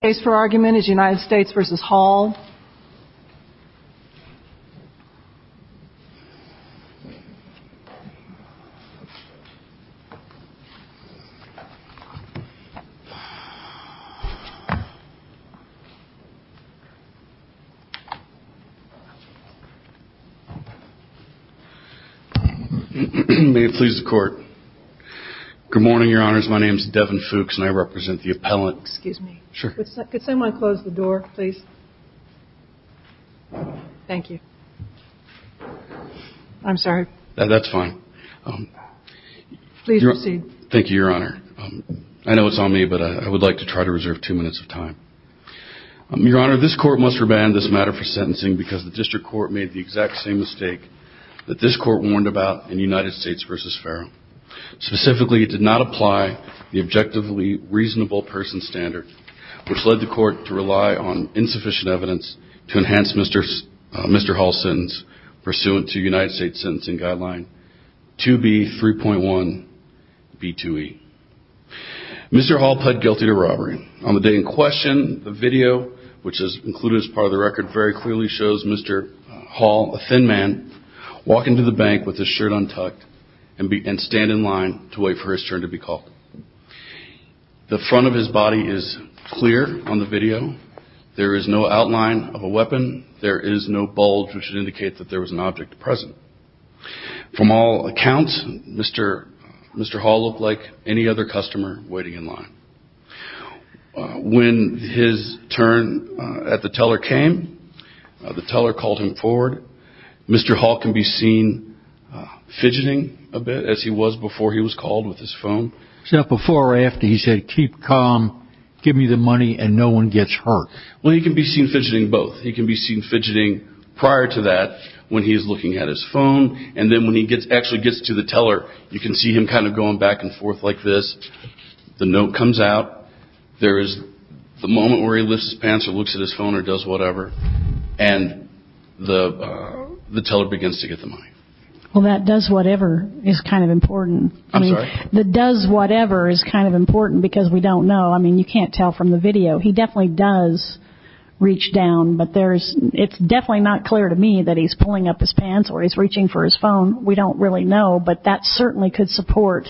May it please the court. Good morning, your honors. My name is Devin Fuchs and I represent the appellant. Excuse me. Sure. Could someone close the door, please? Thank you. I'm sorry. That's fine. Please proceed. Thank you, your honor. I know it's on me, but I would like to try to reserve two minutes of time. Your honor, this court must remand this matter for sentencing because the district court made the exact same mistake that this court warned about in United States v. Farrell. Specifically, it did not apply the objectively reasonable person standard, which led the court to rely on insufficient evidence to enhance Mr. Hall's sentence pursuant to United States sentencing guideline 2B 3.1 B2E. Mr. Hall pled guilty to robbery. On the day in question, the video, which is included as part of the record, very clearly shows Mr. Hall, a thin man, walk into the bank with his turn to be called. The front of his body is clear on the video. There is no outline of a weapon. There is no bulge, which would indicate that there was an object present. From all accounts, Mr. Hall looked like any other customer waiting in line. When his turn at the teller came, the teller called him forward. Mr. Hall can be seen fidgeting a lot. Before or after he said keep calm, give me the money and no one gets hurt. He can be seen fidgeting both. He can be seen fidgeting prior to that when he is looking at his phone. And then when he actually gets to the teller, you can see him kind of going back and forth like this. The note comes out. There is the moment where he lifts his pants or looks at his phone or does whatever. And the teller begins to get the money. Well, that does whatever is kind of important. I'm sorry? The does whatever is kind of important because we don't know. I mean, you can't tell from the video. He definitely does reach down. But there's it's definitely not clear to me that he's pulling up his pants or he's reaching for his phone. We don't really know. But that certainly could support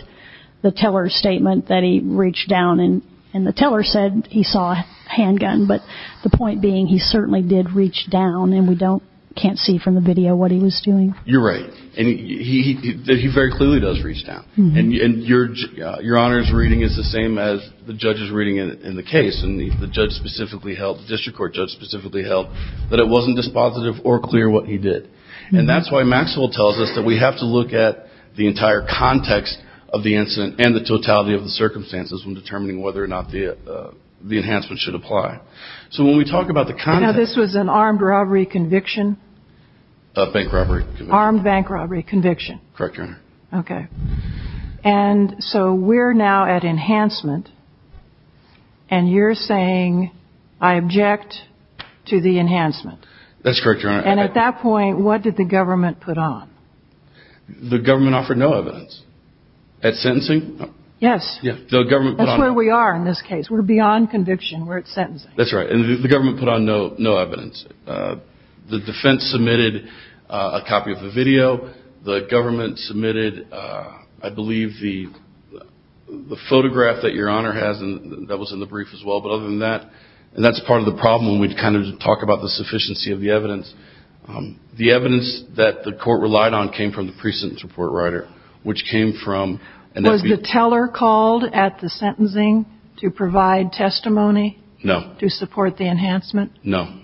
the teller's statement that he reached down and and the teller said he saw a handgun. But the point being, he certainly did reach down and we don't can't see from the video what he was doing. You're right. And he very clearly does reach down. And your your honor's reading is the same as the judge's reading in the case. And the judge specifically held the district court judge specifically held that it wasn't dispositive or clear what he did. And that's why Maxwell tells us that we have to look at the entire context of the incident and the totality of the circumstances when determining whether or not the the enhancement should apply. So when we talk about the kind of this was an armed robbery conviction. Bank robbery. Armed bank robbery conviction. Correct. OK. And so we're now at enhancement. And you're saying I object to the enhancement. That's correct. And at that point, what did the government put on? The government offered no evidence at sentencing. Yes. Yes. The government. That's where we are in this case. We're beyond conviction. We're at sentencing. That's right. And the video, the government submitted, I believe, the photograph that your honor has. And that was in the brief as well. But other than that, and that's part of the problem. We'd kind of talk about the sufficiency of the evidence. The evidence that the court relied on came from the precinct report writer, which came from the teller called at the sentencing to provide testimony. No. To support the enhancement. No.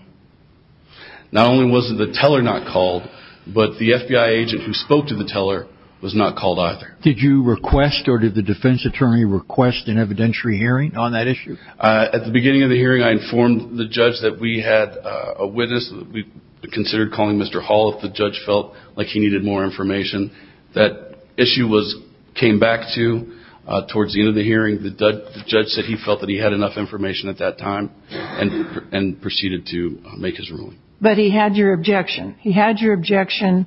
Not only was the teller not called, but the FBI agent who spoke to the teller was not called either. Did you request or did the defense attorney request an evidentiary hearing on that issue? At the beginning of the hearing, I informed the judge that we had a witness. We considered calling Mr. Hall if the judge felt like he needed more information. That issue was came back to towards the end of the hearing. The judge said he felt that he had enough information at that time and proceeded to make his ruling. But he had your objection. He had your objection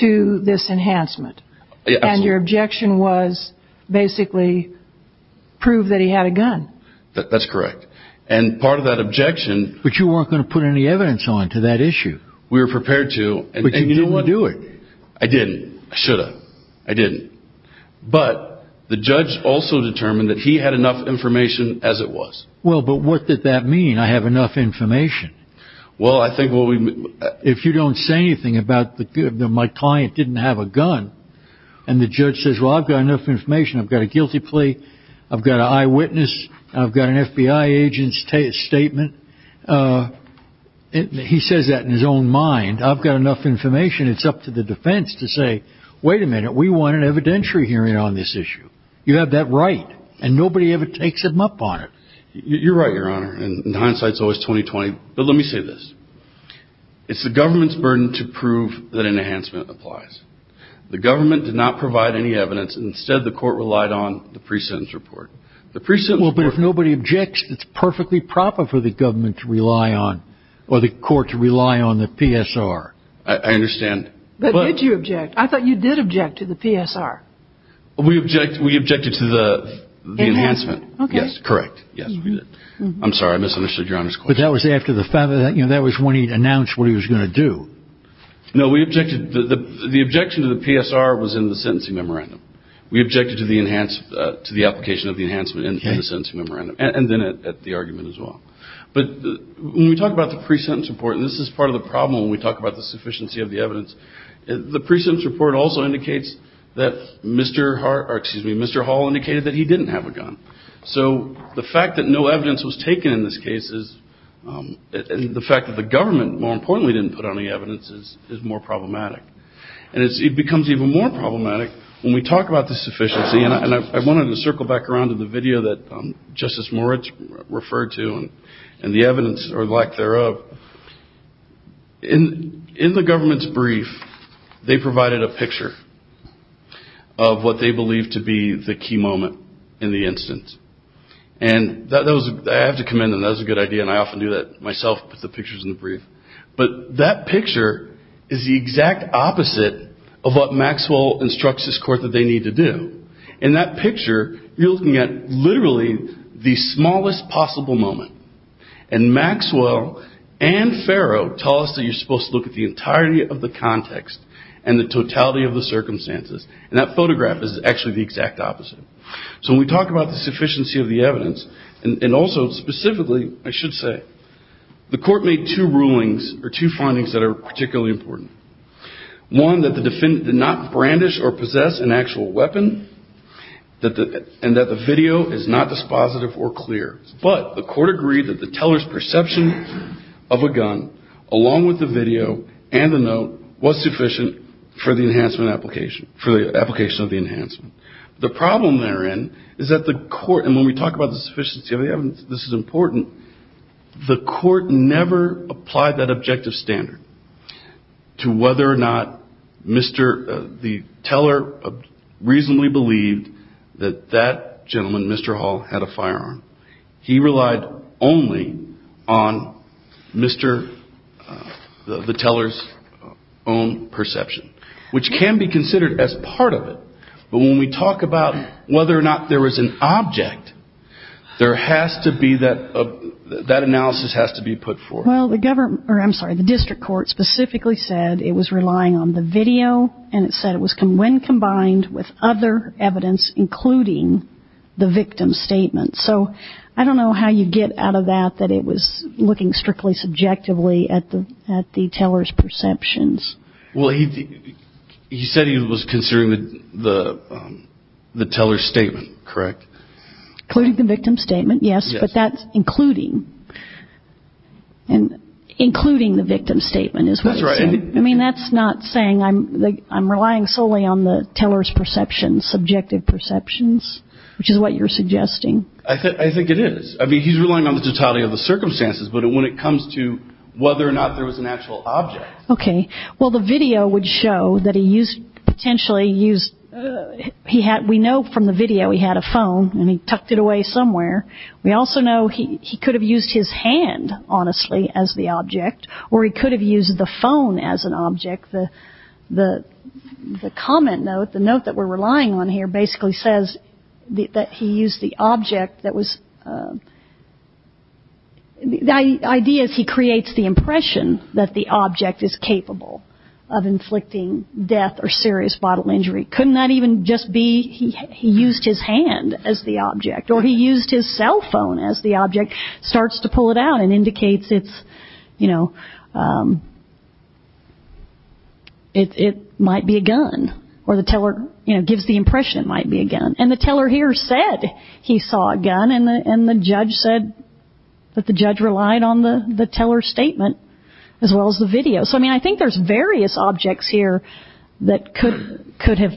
to this enhancement. And your objection was basically prove that he had a gun. That's correct. And part of that objection. But you weren't going to put any evidence on to that issue. We were prepared to. But you didn't do it. I didn't. I should have. I didn't. But the judge also determined that he had enough information as it was. Well, but what did that mean? I have enough information. Well, I think if you don't say anything about my client didn't have a gun and the judge says, well, I've got enough information. I've got a guilty plea. I've got an eyewitness. I've got an FBI agent's statement. He says that in his own mind. I've got enough information. It's up to the defense to say, wait a minute, we want an evidentiary hearing on this issue. You have that right. And nobody ever takes him up on it. You're right, Your Honor. And hindsight is always 20 20. But let me say this. It's the government's burden to prove that an enhancement applies. The government did not provide any evidence. Instead, the court relied on the pre-sentence report. The pre-sentence report. Well, but if nobody objects, it's perfectly proper for the government to rely on or the court to I understand. But did you object? I thought you did object to the PSR. We object. We objected to the enhancement. Yes, correct. Yes, we did. I'm sorry. I misunderstood your honor's question. That was after the fact that that was when he announced what he was going to do. No, we objected. The objection to the PSR was in the sentencing memorandum. We objected to the enhanced to the application of the enhancement in the sentencing memorandum and then at the argument as well. But when we talk about the pre-sentence report, this is part of the problem. We talk about the sufficiency of the evidence. The pre-sentence report also indicates that Mr. Hart or excuse me, Mr. Hall indicated that he didn't have a gun. So the fact that no evidence was taken in this case is the fact that the government more importantly, didn't put any evidence is is more problematic. And it becomes even more problematic when we talk about the sufficiency. And I wanted to circle back around to the In in the government's brief, they provided a picture of what they believe to be the key moment in the instance. And that was I have to commend them. That was a good idea. And I often do that myself with the pictures in the brief. But that picture is the exact opposite of what Maxwell instructs his court that they need to do. In that picture, you're looking at literally the smallest possible moment. And Maxwell and Farrow tell us that you're supposed to look at the entirety of the context and the totality of the circumstances. And that photograph is actually the exact opposite. So when we talk about the sufficiency of the evidence and also specifically, I should say, the court made two rulings or two findings that are particularly important. One, that the defendant did not brandish or possess an actual weapon and that the video is not dispositive or clear. But the court agreed that the teller's perception of a gun along with the video and the note was sufficient for the enhancement application for the application of the enhancement. The problem therein is that the court and when we talk about the sufficiency of the evidence, this is important. The court never applied that objective standard to whether or not the teller reasonably believed that that gentleman, Mr. Hall, had a firearm. He relied only on the teller's own perception, which can be considered as part of it. But when we talk about whether or not there was an object, there has to be that, that analysis has to be put forth. Well, the government, or I'm sorry, the district court specifically said it was relying on the video and it said it was when combined with other evidence, including the victim's statement. So I don't know how you get out of that, that it was looking strictly subjectively Well, he said he was considering the teller's statement, correct? Including the victim's statement, yes, but that's including. And including the victim's statement is what he said. I mean, that's not saying I'm relying solely on the teller's perception, subjective perceptions, which is what you're suggesting. I think it is. I mean, he's relying on the totality of the circumstances, but when it comes to whether or not there was an actual object. Okay. Well, the video would show that he used, potentially used, he had, we know from the video he had a phone and he tucked it away somewhere. We also know he could have used his hand, honestly, as the object, or he could have used the phone as an object. The comment note, the note that we're relying on here basically says that he used the object that was, the idea is he creates the impression that the object is capable of inflicting death or serious bottle injury. Couldn't that even just be he used his hand as the object, or he used his cell phone as the object, starts to pull it out and indicates it's, you know, it might be a gun, or the teller, you know, gives the impression it might be a gun. And the teller here said he saw a gun, and the judge said that the judge relied on the teller's statement as well as the video. So, I mean, I think there's various objects here that could have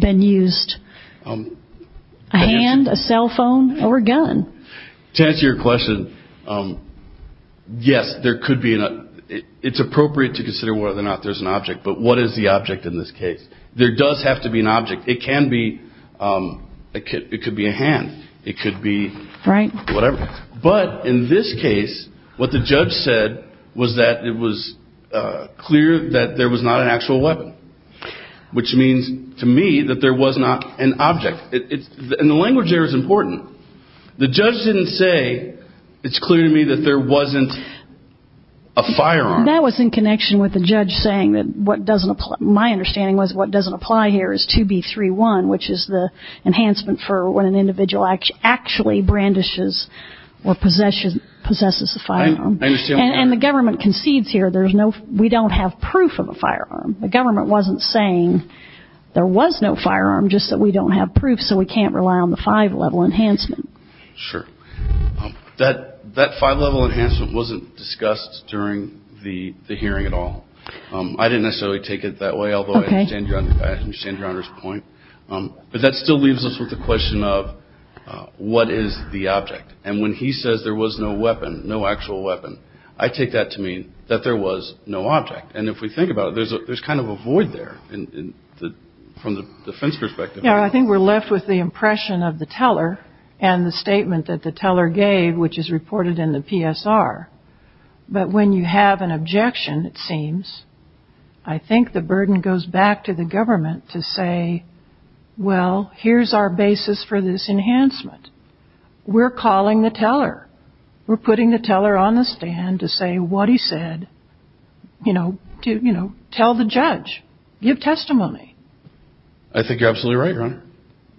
been used. A hand, a cell phone, or a gun. To answer your question, yes, there could be an, it's appropriate to consider whether or not there's an object, but what is the object in this case? There does have to be an object. It can be, it could be a hand. It could be whatever. But in this case, what the judge said was that it was clear that there was not an actual weapon, which means to me that there was not an object. And the language there is important. The judge didn't say it's clear to me that there wasn't a firearm. That was in connection with the judge saying that what doesn't apply, my understanding was what doesn't apply here is 2B31, which is the enhancement for when an individual actually brandishes or possesses a firearm. And the government concedes here there's no, we don't have proof of a firearm. The government wasn't saying there was no firearm, just that we don't have proof, so we can't rely on the five-level enhancement. Sure. That five-level enhancement wasn't discussed during the hearing at all. I didn't necessarily take it that way, although I understand Your Honor's point. But that still leaves us with the question of what is the object? And when he says there was no weapon, no actual weapon, I take that to mean that there was no object. And if we think about it, there's kind of a void there from the defense perspective. Yeah, I think we're left with the impression of the teller and the statement that the teller gave, which is reported in the PSR. But when you have an objection, it seems, I think the burden goes back to the government to say, well, here's our basis for this enhancement. We're calling the teller. We're putting the teller on the stand to say what he said, you know, to, you know, tell the judge, give testimony. I think you're absolutely right, Your Honor.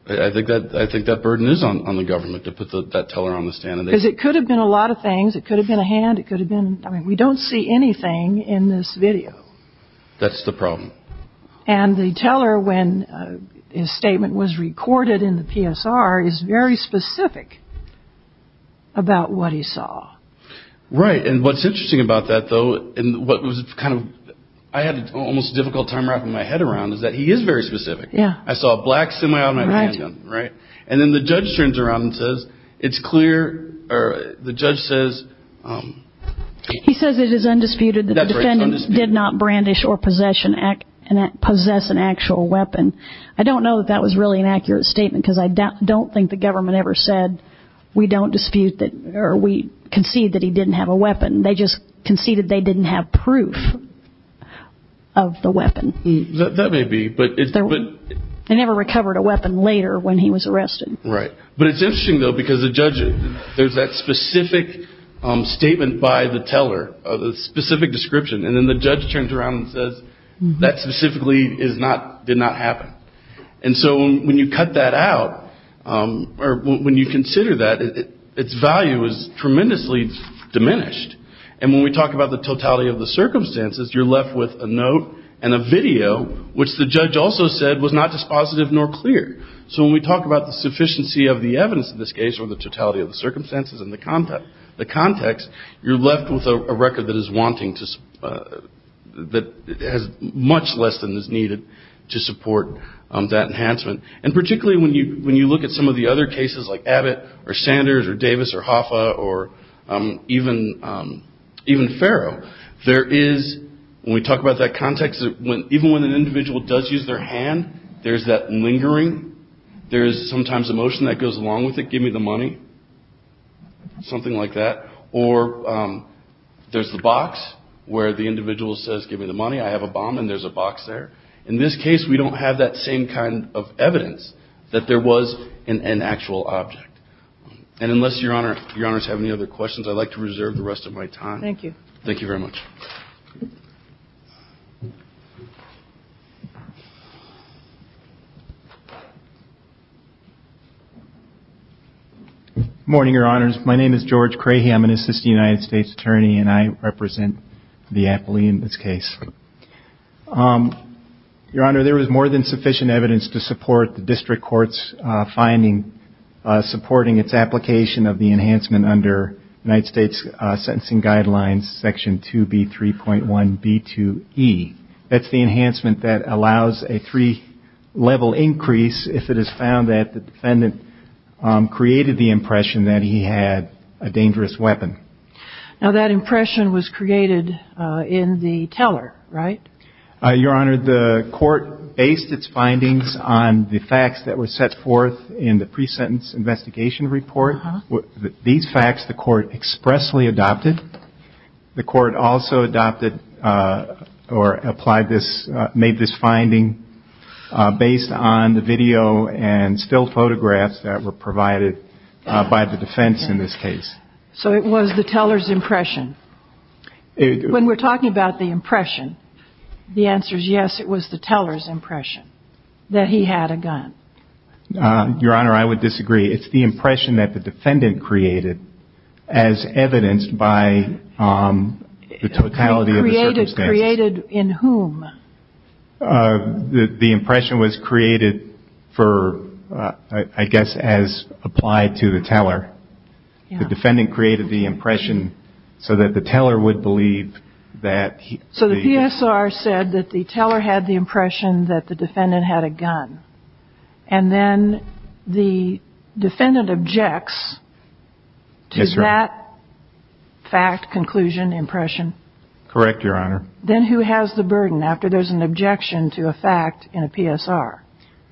I think that burden is on the government to put that teller on the stand. Because it could have been a lot of things. It could have been a hand. It could have been, I mean, we don't see anything in this video. That's the problem. And the teller, when his statement was recorded in the PSR, is very specific about what he saw. Right. And what's interesting about that, though, and what was kind of, I had an almost difficult time wrapping my head around is that he is very specific. Yeah. I saw a black semi-automatic handgun, right? And then the judge turns around and says, it's clear, or the judge says. He says it is undisputed that the defendant did not brandish or possess an actual weapon. I don't know that that was really an accurate statement, because I don't think the government ever said we don't dispute that or we concede that he didn't have a weapon. They just conceded they didn't have proof of the weapon. That may be, but it's. They never recovered a weapon later when he was arrested. Right. But it's interesting, though, because the judge, there's that specific statement by the teller of a specific description. And then the judge turns around and says that specifically is not did not happen. And so when you cut that out or when you consider that its value is tremendously diminished. And when we talk about the totality of the circumstances, you're left with a note and a video, which the judge also said was not dispositive nor clear. So when we talk about the sufficiency of the evidence in this case or the totality of the circumstances and the context, the context, you're left with a record that is wanting to that has much less than is needed to support that enhancement. And particularly when you when you look at some of the other cases like Abbott or Sanders or Davis or Hoffa or even even Farrow, there is when we talk about that context, when even when an individual does use their hand, there's that lingering. There is sometimes emotion that goes along with it. Give me the money. Something like that. Or there's the box where the individual says, give me the money. I have a bomb and there's a box there. In this case, we don't have that same kind of evidence that there was an actual object. And unless Your Honor, Your Honors have any other questions, I'd like to reserve the rest of my time. Thank you. Thank you very much. Morning, Your Honors. My name is George Crahey. I'm an assistant United States attorney and I represent the appellee in this case. Your Honor, there was more than sufficient evidence to support the district court's finding supporting its application of the enhancement under United States sentencing guidelines, Section 2B 3.1B2E. That's the enhancement that allows a three level increase if it is found that the defendant created the impression that he had a dangerous weapon. Now, that impression was created in the teller, right? Your Honor, the court based its findings on the facts that were set forth in the pre-sentence investigation report. These facts, the court expressly adopted. The court also adopted or applied this, made this finding based on the video and still photographs that were provided by the defense in this case. So it was the teller's impression. When we're talking about the impression, the answer is yes, it was the teller's impression that he had a gun. Your Honor, I would disagree. It's the impression that the defendant created as evidenced by the totality of the circumstances. Created in whom? The impression was created for, I guess, as applied to the teller. The defendant created the impression so that the teller would believe that. So the PSR said that the teller had the impression that the defendant had a gun and then the defendant objects to that fact, conclusion, impression. Correct, Your Honor. Then who has the burden after there's an objection to a fact in a PSR?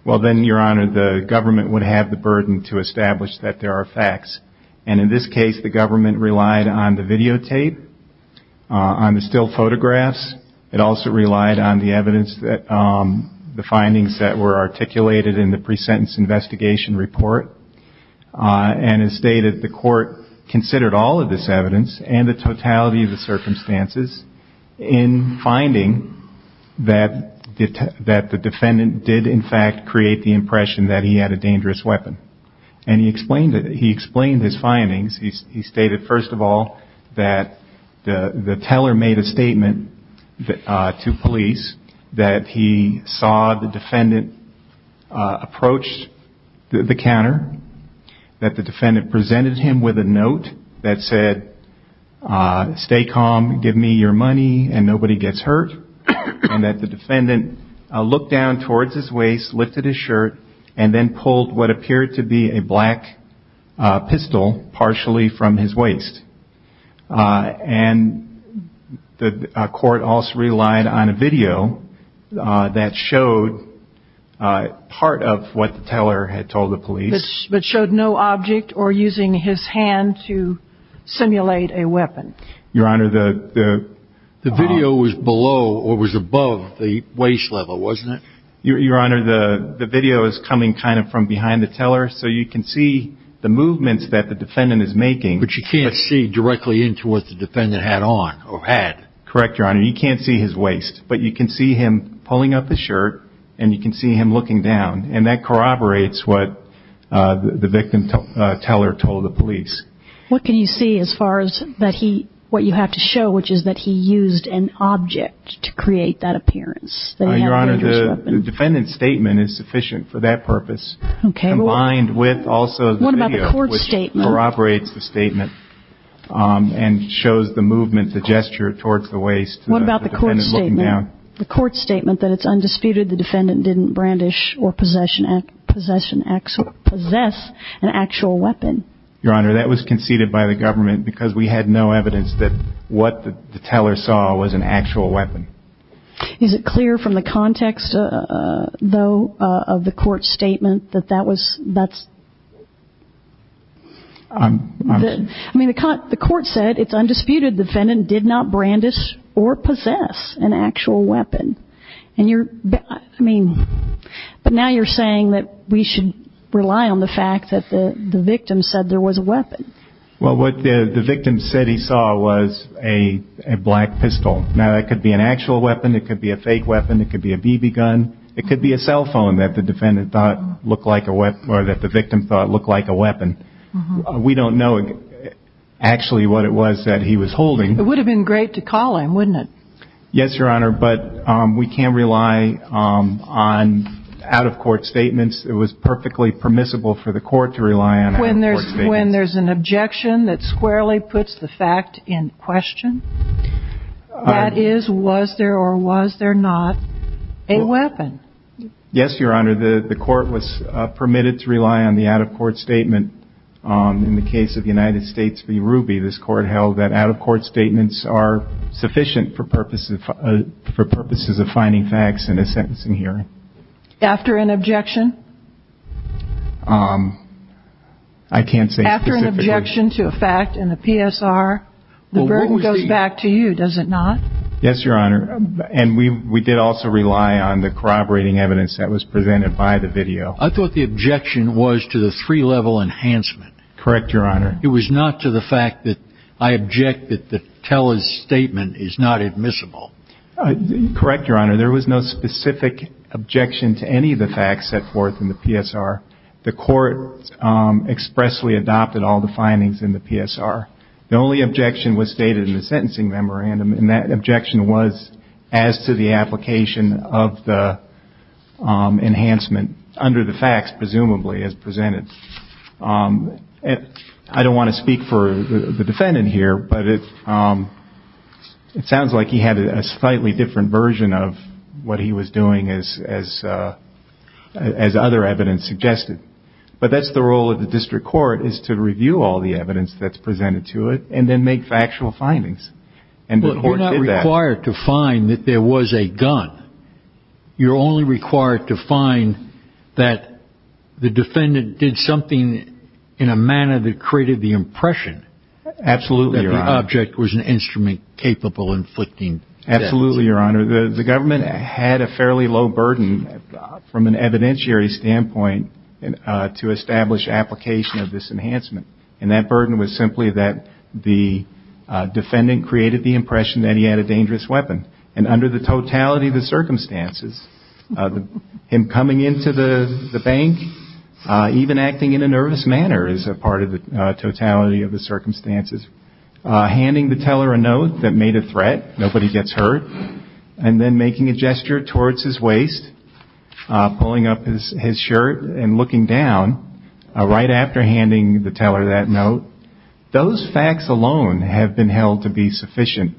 Well, then, Your Honor, the government would have the burden to establish that there are facts. And in this case, the government relied on the videotape, on the still photographs. It also relied on the evidence that the findings that were articulated in the pre-sentence investigation report. And as stated, the court considered all of this evidence and the totality of the circumstances in finding that the defendant did, in fact, create the impression that he had a dangerous weapon. And he explained it. He explained his findings. He stated, first of all, that the teller made a statement to police, that he saw the defendant approach the counter, that the defendant presented him with a note that said, stay calm, give me your money, and nobody gets hurt, and that the defendant looked down towards his waist, lifted his shirt, and then pulled what appeared to be a black pistol partially from his waist. And the court also relied on a video that showed part of what the teller had told the police. But showed no object or using his hand to simulate a weapon. Your Honor, the video was below or was above the waist level, wasn't it? Your Honor, the video is coming kind of from behind the teller, so you can see the movements that the defendant is making. But you can't see directly into what the defendant had on or had. Correct, Your Honor. You can't see his waist, but you can see him pulling up the shirt and you can see him looking down. And that corroborates what the victim teller told the police. What can you see as far as what you have to show, which is that he used an object to create that appearance? Your Honor, the defendant's statement is sufficient for that purpose, combined with also the video, which corroborates the statement and shows the movement, the gesture towards the waist. What about the court's statement? The court's statement that it's undisputed the defendant didn't brandish or possess an actual weapon. Your Honor, that was conceded by the government because we had no evidence that what the teller saw was an actual weapon. Is it clear from the context, though, of the court's statement that that was that's. I mean, the court said it's undisputed the defendant did not brandish or possess an actual weapon. And you're I mean, but now you're saying that we should rely on the fact that the victim said there was a weapon. Well, what the victim said he saw was a black pistol. Now, that could be an actual weapon. It could be a fake weapon. It could be a BB gun. It could be a cell phone that the defendant thought looked like a weapon or that the victim thought looked like a weapon. We don't know actually what it was that he was holding. It would have been great to call him, wouldn't it? Yes, Your Honor. But we can rely on out of court statements. It was perfectly permissible for the court to rely on when there's when there's an objection that squarely puts the fact in question. That is, was there or was there not a weapon? Yes, Your Honor. The court was permitted to rely on the out of court statement. In the case of the United States v. Ruby, this court held that out of court statements are sufficient for purposes for purposes of finding facts in a sentencing hearing after an objection. I can't say after an objection to a fact in the PSR, the burden goes back to you, does it not? Yes, Your Honor. And we did also rely on the corroborating evidence that was presented by the video. I thought the objection was to the three level enhancement. Correct, Your Honor. It was not to the fact that I object that the TELUS statement is not admissible. Correct, Your Honor. There was no specific objection to any of the facts set forth in the PSR. The court expressly adopted all the findings in the PSR. The only objection was stated in the sentencing memorandum, and that objection was as to the application of the enhancement under the facts, presumably, as presented. I don't want to speak for the defendant here, but it sounds like he had a slightly different version of what he was doing as other evidence suggested. But that's the role of the district court, is to review all the evidence that's presented to it, and then make factual findings. You're not required to find that there was a gun. You're only required to find that the defendant did something in a manner that created the impression that the object was an instrument capable of inflicting death. Absolutely, Your Honor. The government had a fairly low burden from an evidentiary standpoint to establish application of this enhancement. And that burden was simply that the defendant created the impression that he had a dangerous weapon. And under the totality of the circumstances, him coming into the bank, even acting in a nervous manner is a part of the totality of the circumstances. Handing the teller a note that made a threat, nobody gets hurt. And then making a gesture towards his waist, pulling up his shirt, and looking down, right after handing the teller that note. Those facts alone have been held to be sufficient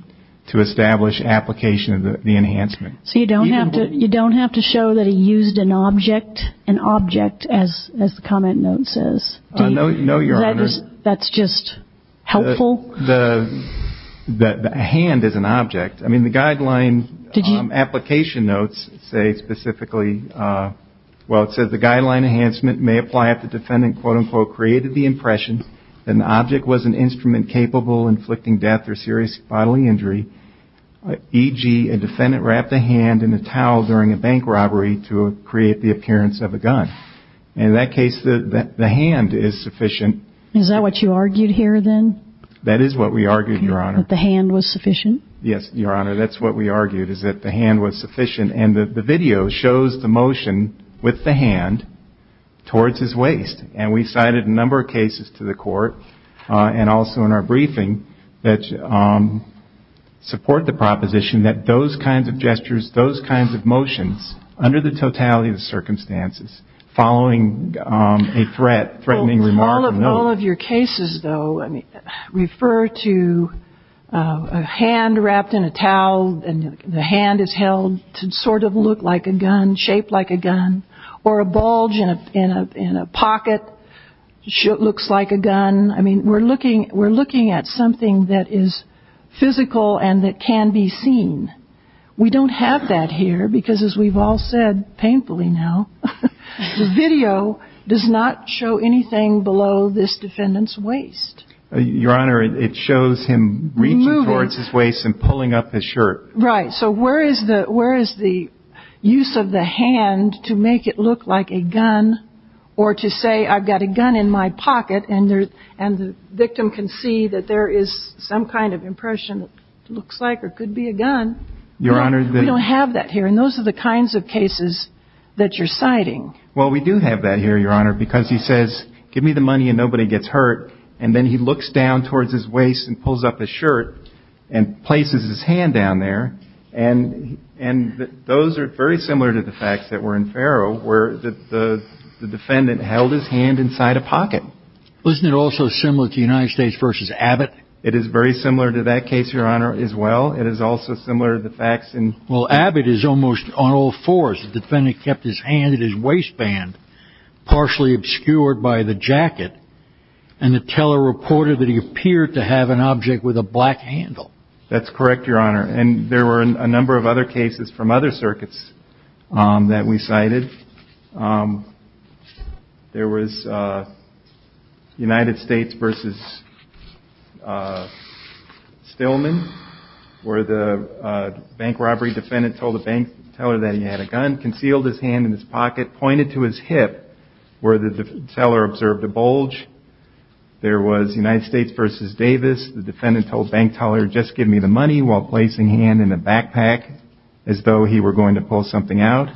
to establish application of the enhancement. So you don't have to show that he used an object, an object, as the comment note says? No, Your Honor. That's just helpful? The hand is an object. I mean, the guideline... Application notes say specifically, well, it says the guideline enhancement may apply if the defendant, quote, unquote, created the impression that an object was an instrument capable of inflicting death or serious bodily injury, e.g. a defendant wrapped a hand in a towel during a bank robbery to create the appearance of a gun. And in that case, the hand is sufficient. Is that what you argued here then? That is what we argued, Your Honor. The hand was sufficient? Yes, Your Honor. That's what we argued. Is that the hand was sufficient? And the video shows the motion with the hand towards his waist. And we cited a number of cases to the court, and also in our briefing, that support the proposition that those kinds of gestures, those kinds of motions, under the totality of the circumstances, following a threat, threatening remark. All of your cases, though, refer to a hand wrapped in a towel, and the hand is held to sort of look like a gun, shape like a gun, or a bulge in a pocket looks like a gun. I mean, we're looking at something that is physical and that can be seen. We don't have that here because, as we've all said painfully now, the video does not show anything below this defendant's waist. Your Honor, it shows him reaching towards his waist and pulling up his shirt. Right. So where is the use of the hand to make it look like a gun or to say, I've got a gun in my pocket and the victim can see that there is some kind of impression that looks like or could be a gun? Your Honor, we don't have that here. And those are the kinds of cases that you're citing. Well, we do have that here, Your Honor, because he says, give me the money and nobody gets hurt. And then he looks down towards his waist and pulls up a shirt and places his hand down there. And and those are very similar to the facts that were in Farrow, where the defendant held his hand inside a pocket. Wasn't it also similar to United States versus Abbott? It is very similar to that case, Your Honor, as well. It is also similar to the facts. Well, Abbott is almost on all fours. The defendant kept his hand at his waistband, partially obscured by the jacket, and the teller reported that he appeared to have an object with a black handle. That's correct, Your Honor. And there were a number of other cases from other circuits that we cited. There was United States versus Stillman, where the bank robbery defendant told the bank teller that he had a gun, concealed his hand in his pocket, pointed to his hip, where the teller observed a bulge. There was United States versus Davis. The defendant told bank teller, just give me the money, while placing hand in a backpack as though he were going to pull something out.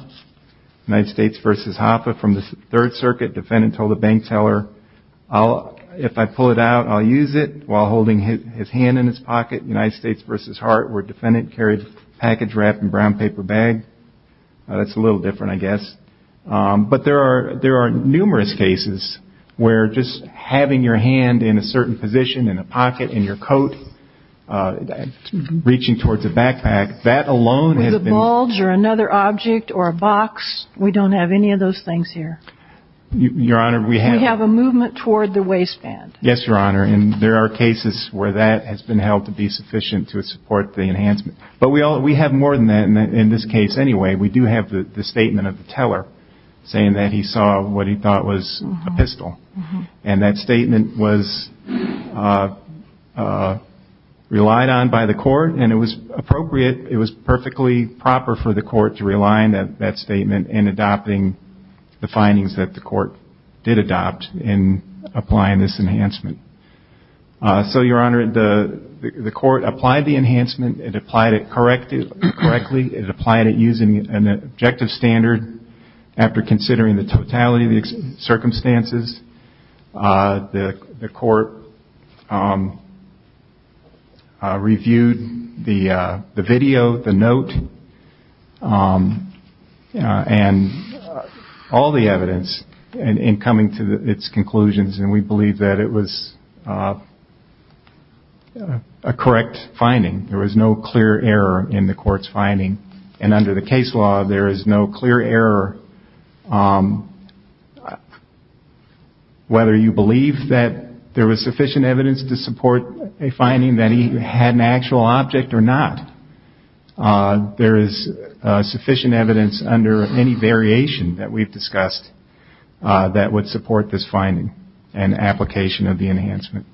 United States versus Hoffa, from the Third Circuit, defendant told the bank teller, if I pull it out, I'll use it, while holding his hand in his pocket. United States versus Hart, where defendant carried package wrapped in brown paper bag. That's a little different, I guess. But there are numerous cases where just having your hand in a certain position, in a pocket, in your coat, reaching towards a backpack, that alone has been... A bulge, or another object, or a box, we don't have any of those things here. Your Honor, we have... We have a movement toward the waistband. Yes, Your Honor. And there are cases where that has been held to be sufficient to support the enhancement. But we have more than that in this case anyway. We do have the statement of the teller saying that he saw what he thought was a pistol. And that statement was relied on by the court. And it was appropriate. It was perfectly proper for the court to rely on that statement in adopting the findings that the court did adopt in applying this enhancement. So, Your Honor, the court applied the enhancement, it applied it correctly, it applied it using an objective standard after considering the totality of the circumstances. The court reviewed the video, the note, and all the evidence in coming to its conclusions. And we believe that it was a correct finding. There was no clear error in the court's finding. And under the case law, there is no clear error whether you believe that there was sufficient evidence to support a finding that he had an actual object or not. There is sufficient evidence under any variation that we've discussed that would support this finding and application of the enhancement.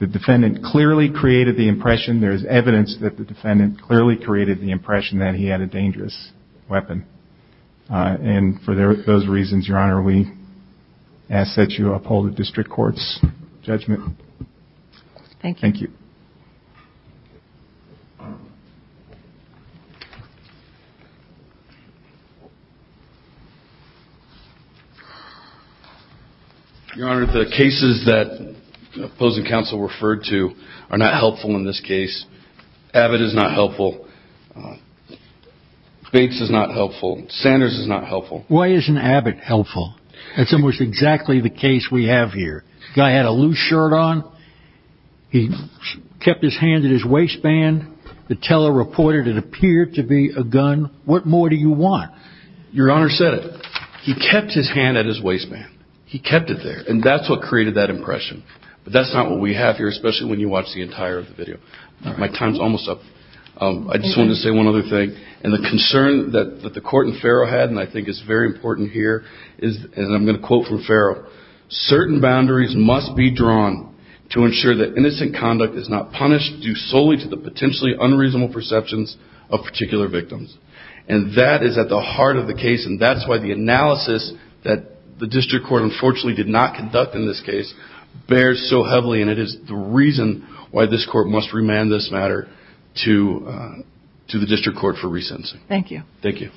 The defendant clearly created the impression. There is evidence that the defendant clearly created the impression that he had a dangerous weapon. And for those reasons, Your Honor, we ask that you uphold the district court's judgment. Thank you. Your Honor, the cases that opposing counsel referred to are not helpful in this case. Abbott is not helpful. Bates is not helpful. Sanders is not helpful. Why isn't Abbott helpful? That's almost exactly the case we have here. Guy had a loose shirt on. He kept his hand in his waistband. The teller reported it appeared to be a gun. What more do you want? Your Honor said it. He kept his hand at his waistband. He kept it there. And that's what created that impression. But that's not what we have here, especially when you watch the entire video. My time's almost up. I just wanted to say one other thing. And the concern that the court and Farrell had, and I think it's very important here, is, and I'm going to quote from Farrell, certain boundaries must be drawn to ensure that innocent conduct is not punished due solely to the potentially unreasonable perceptions of particular victims. And that is at the heart of the case. And that's why the analysis that the district court unfortunately did not conduct in this case bears so heavily. And it is the reason why this court must remand this matter to the district court for re-sentencing. Thank you. Thank you.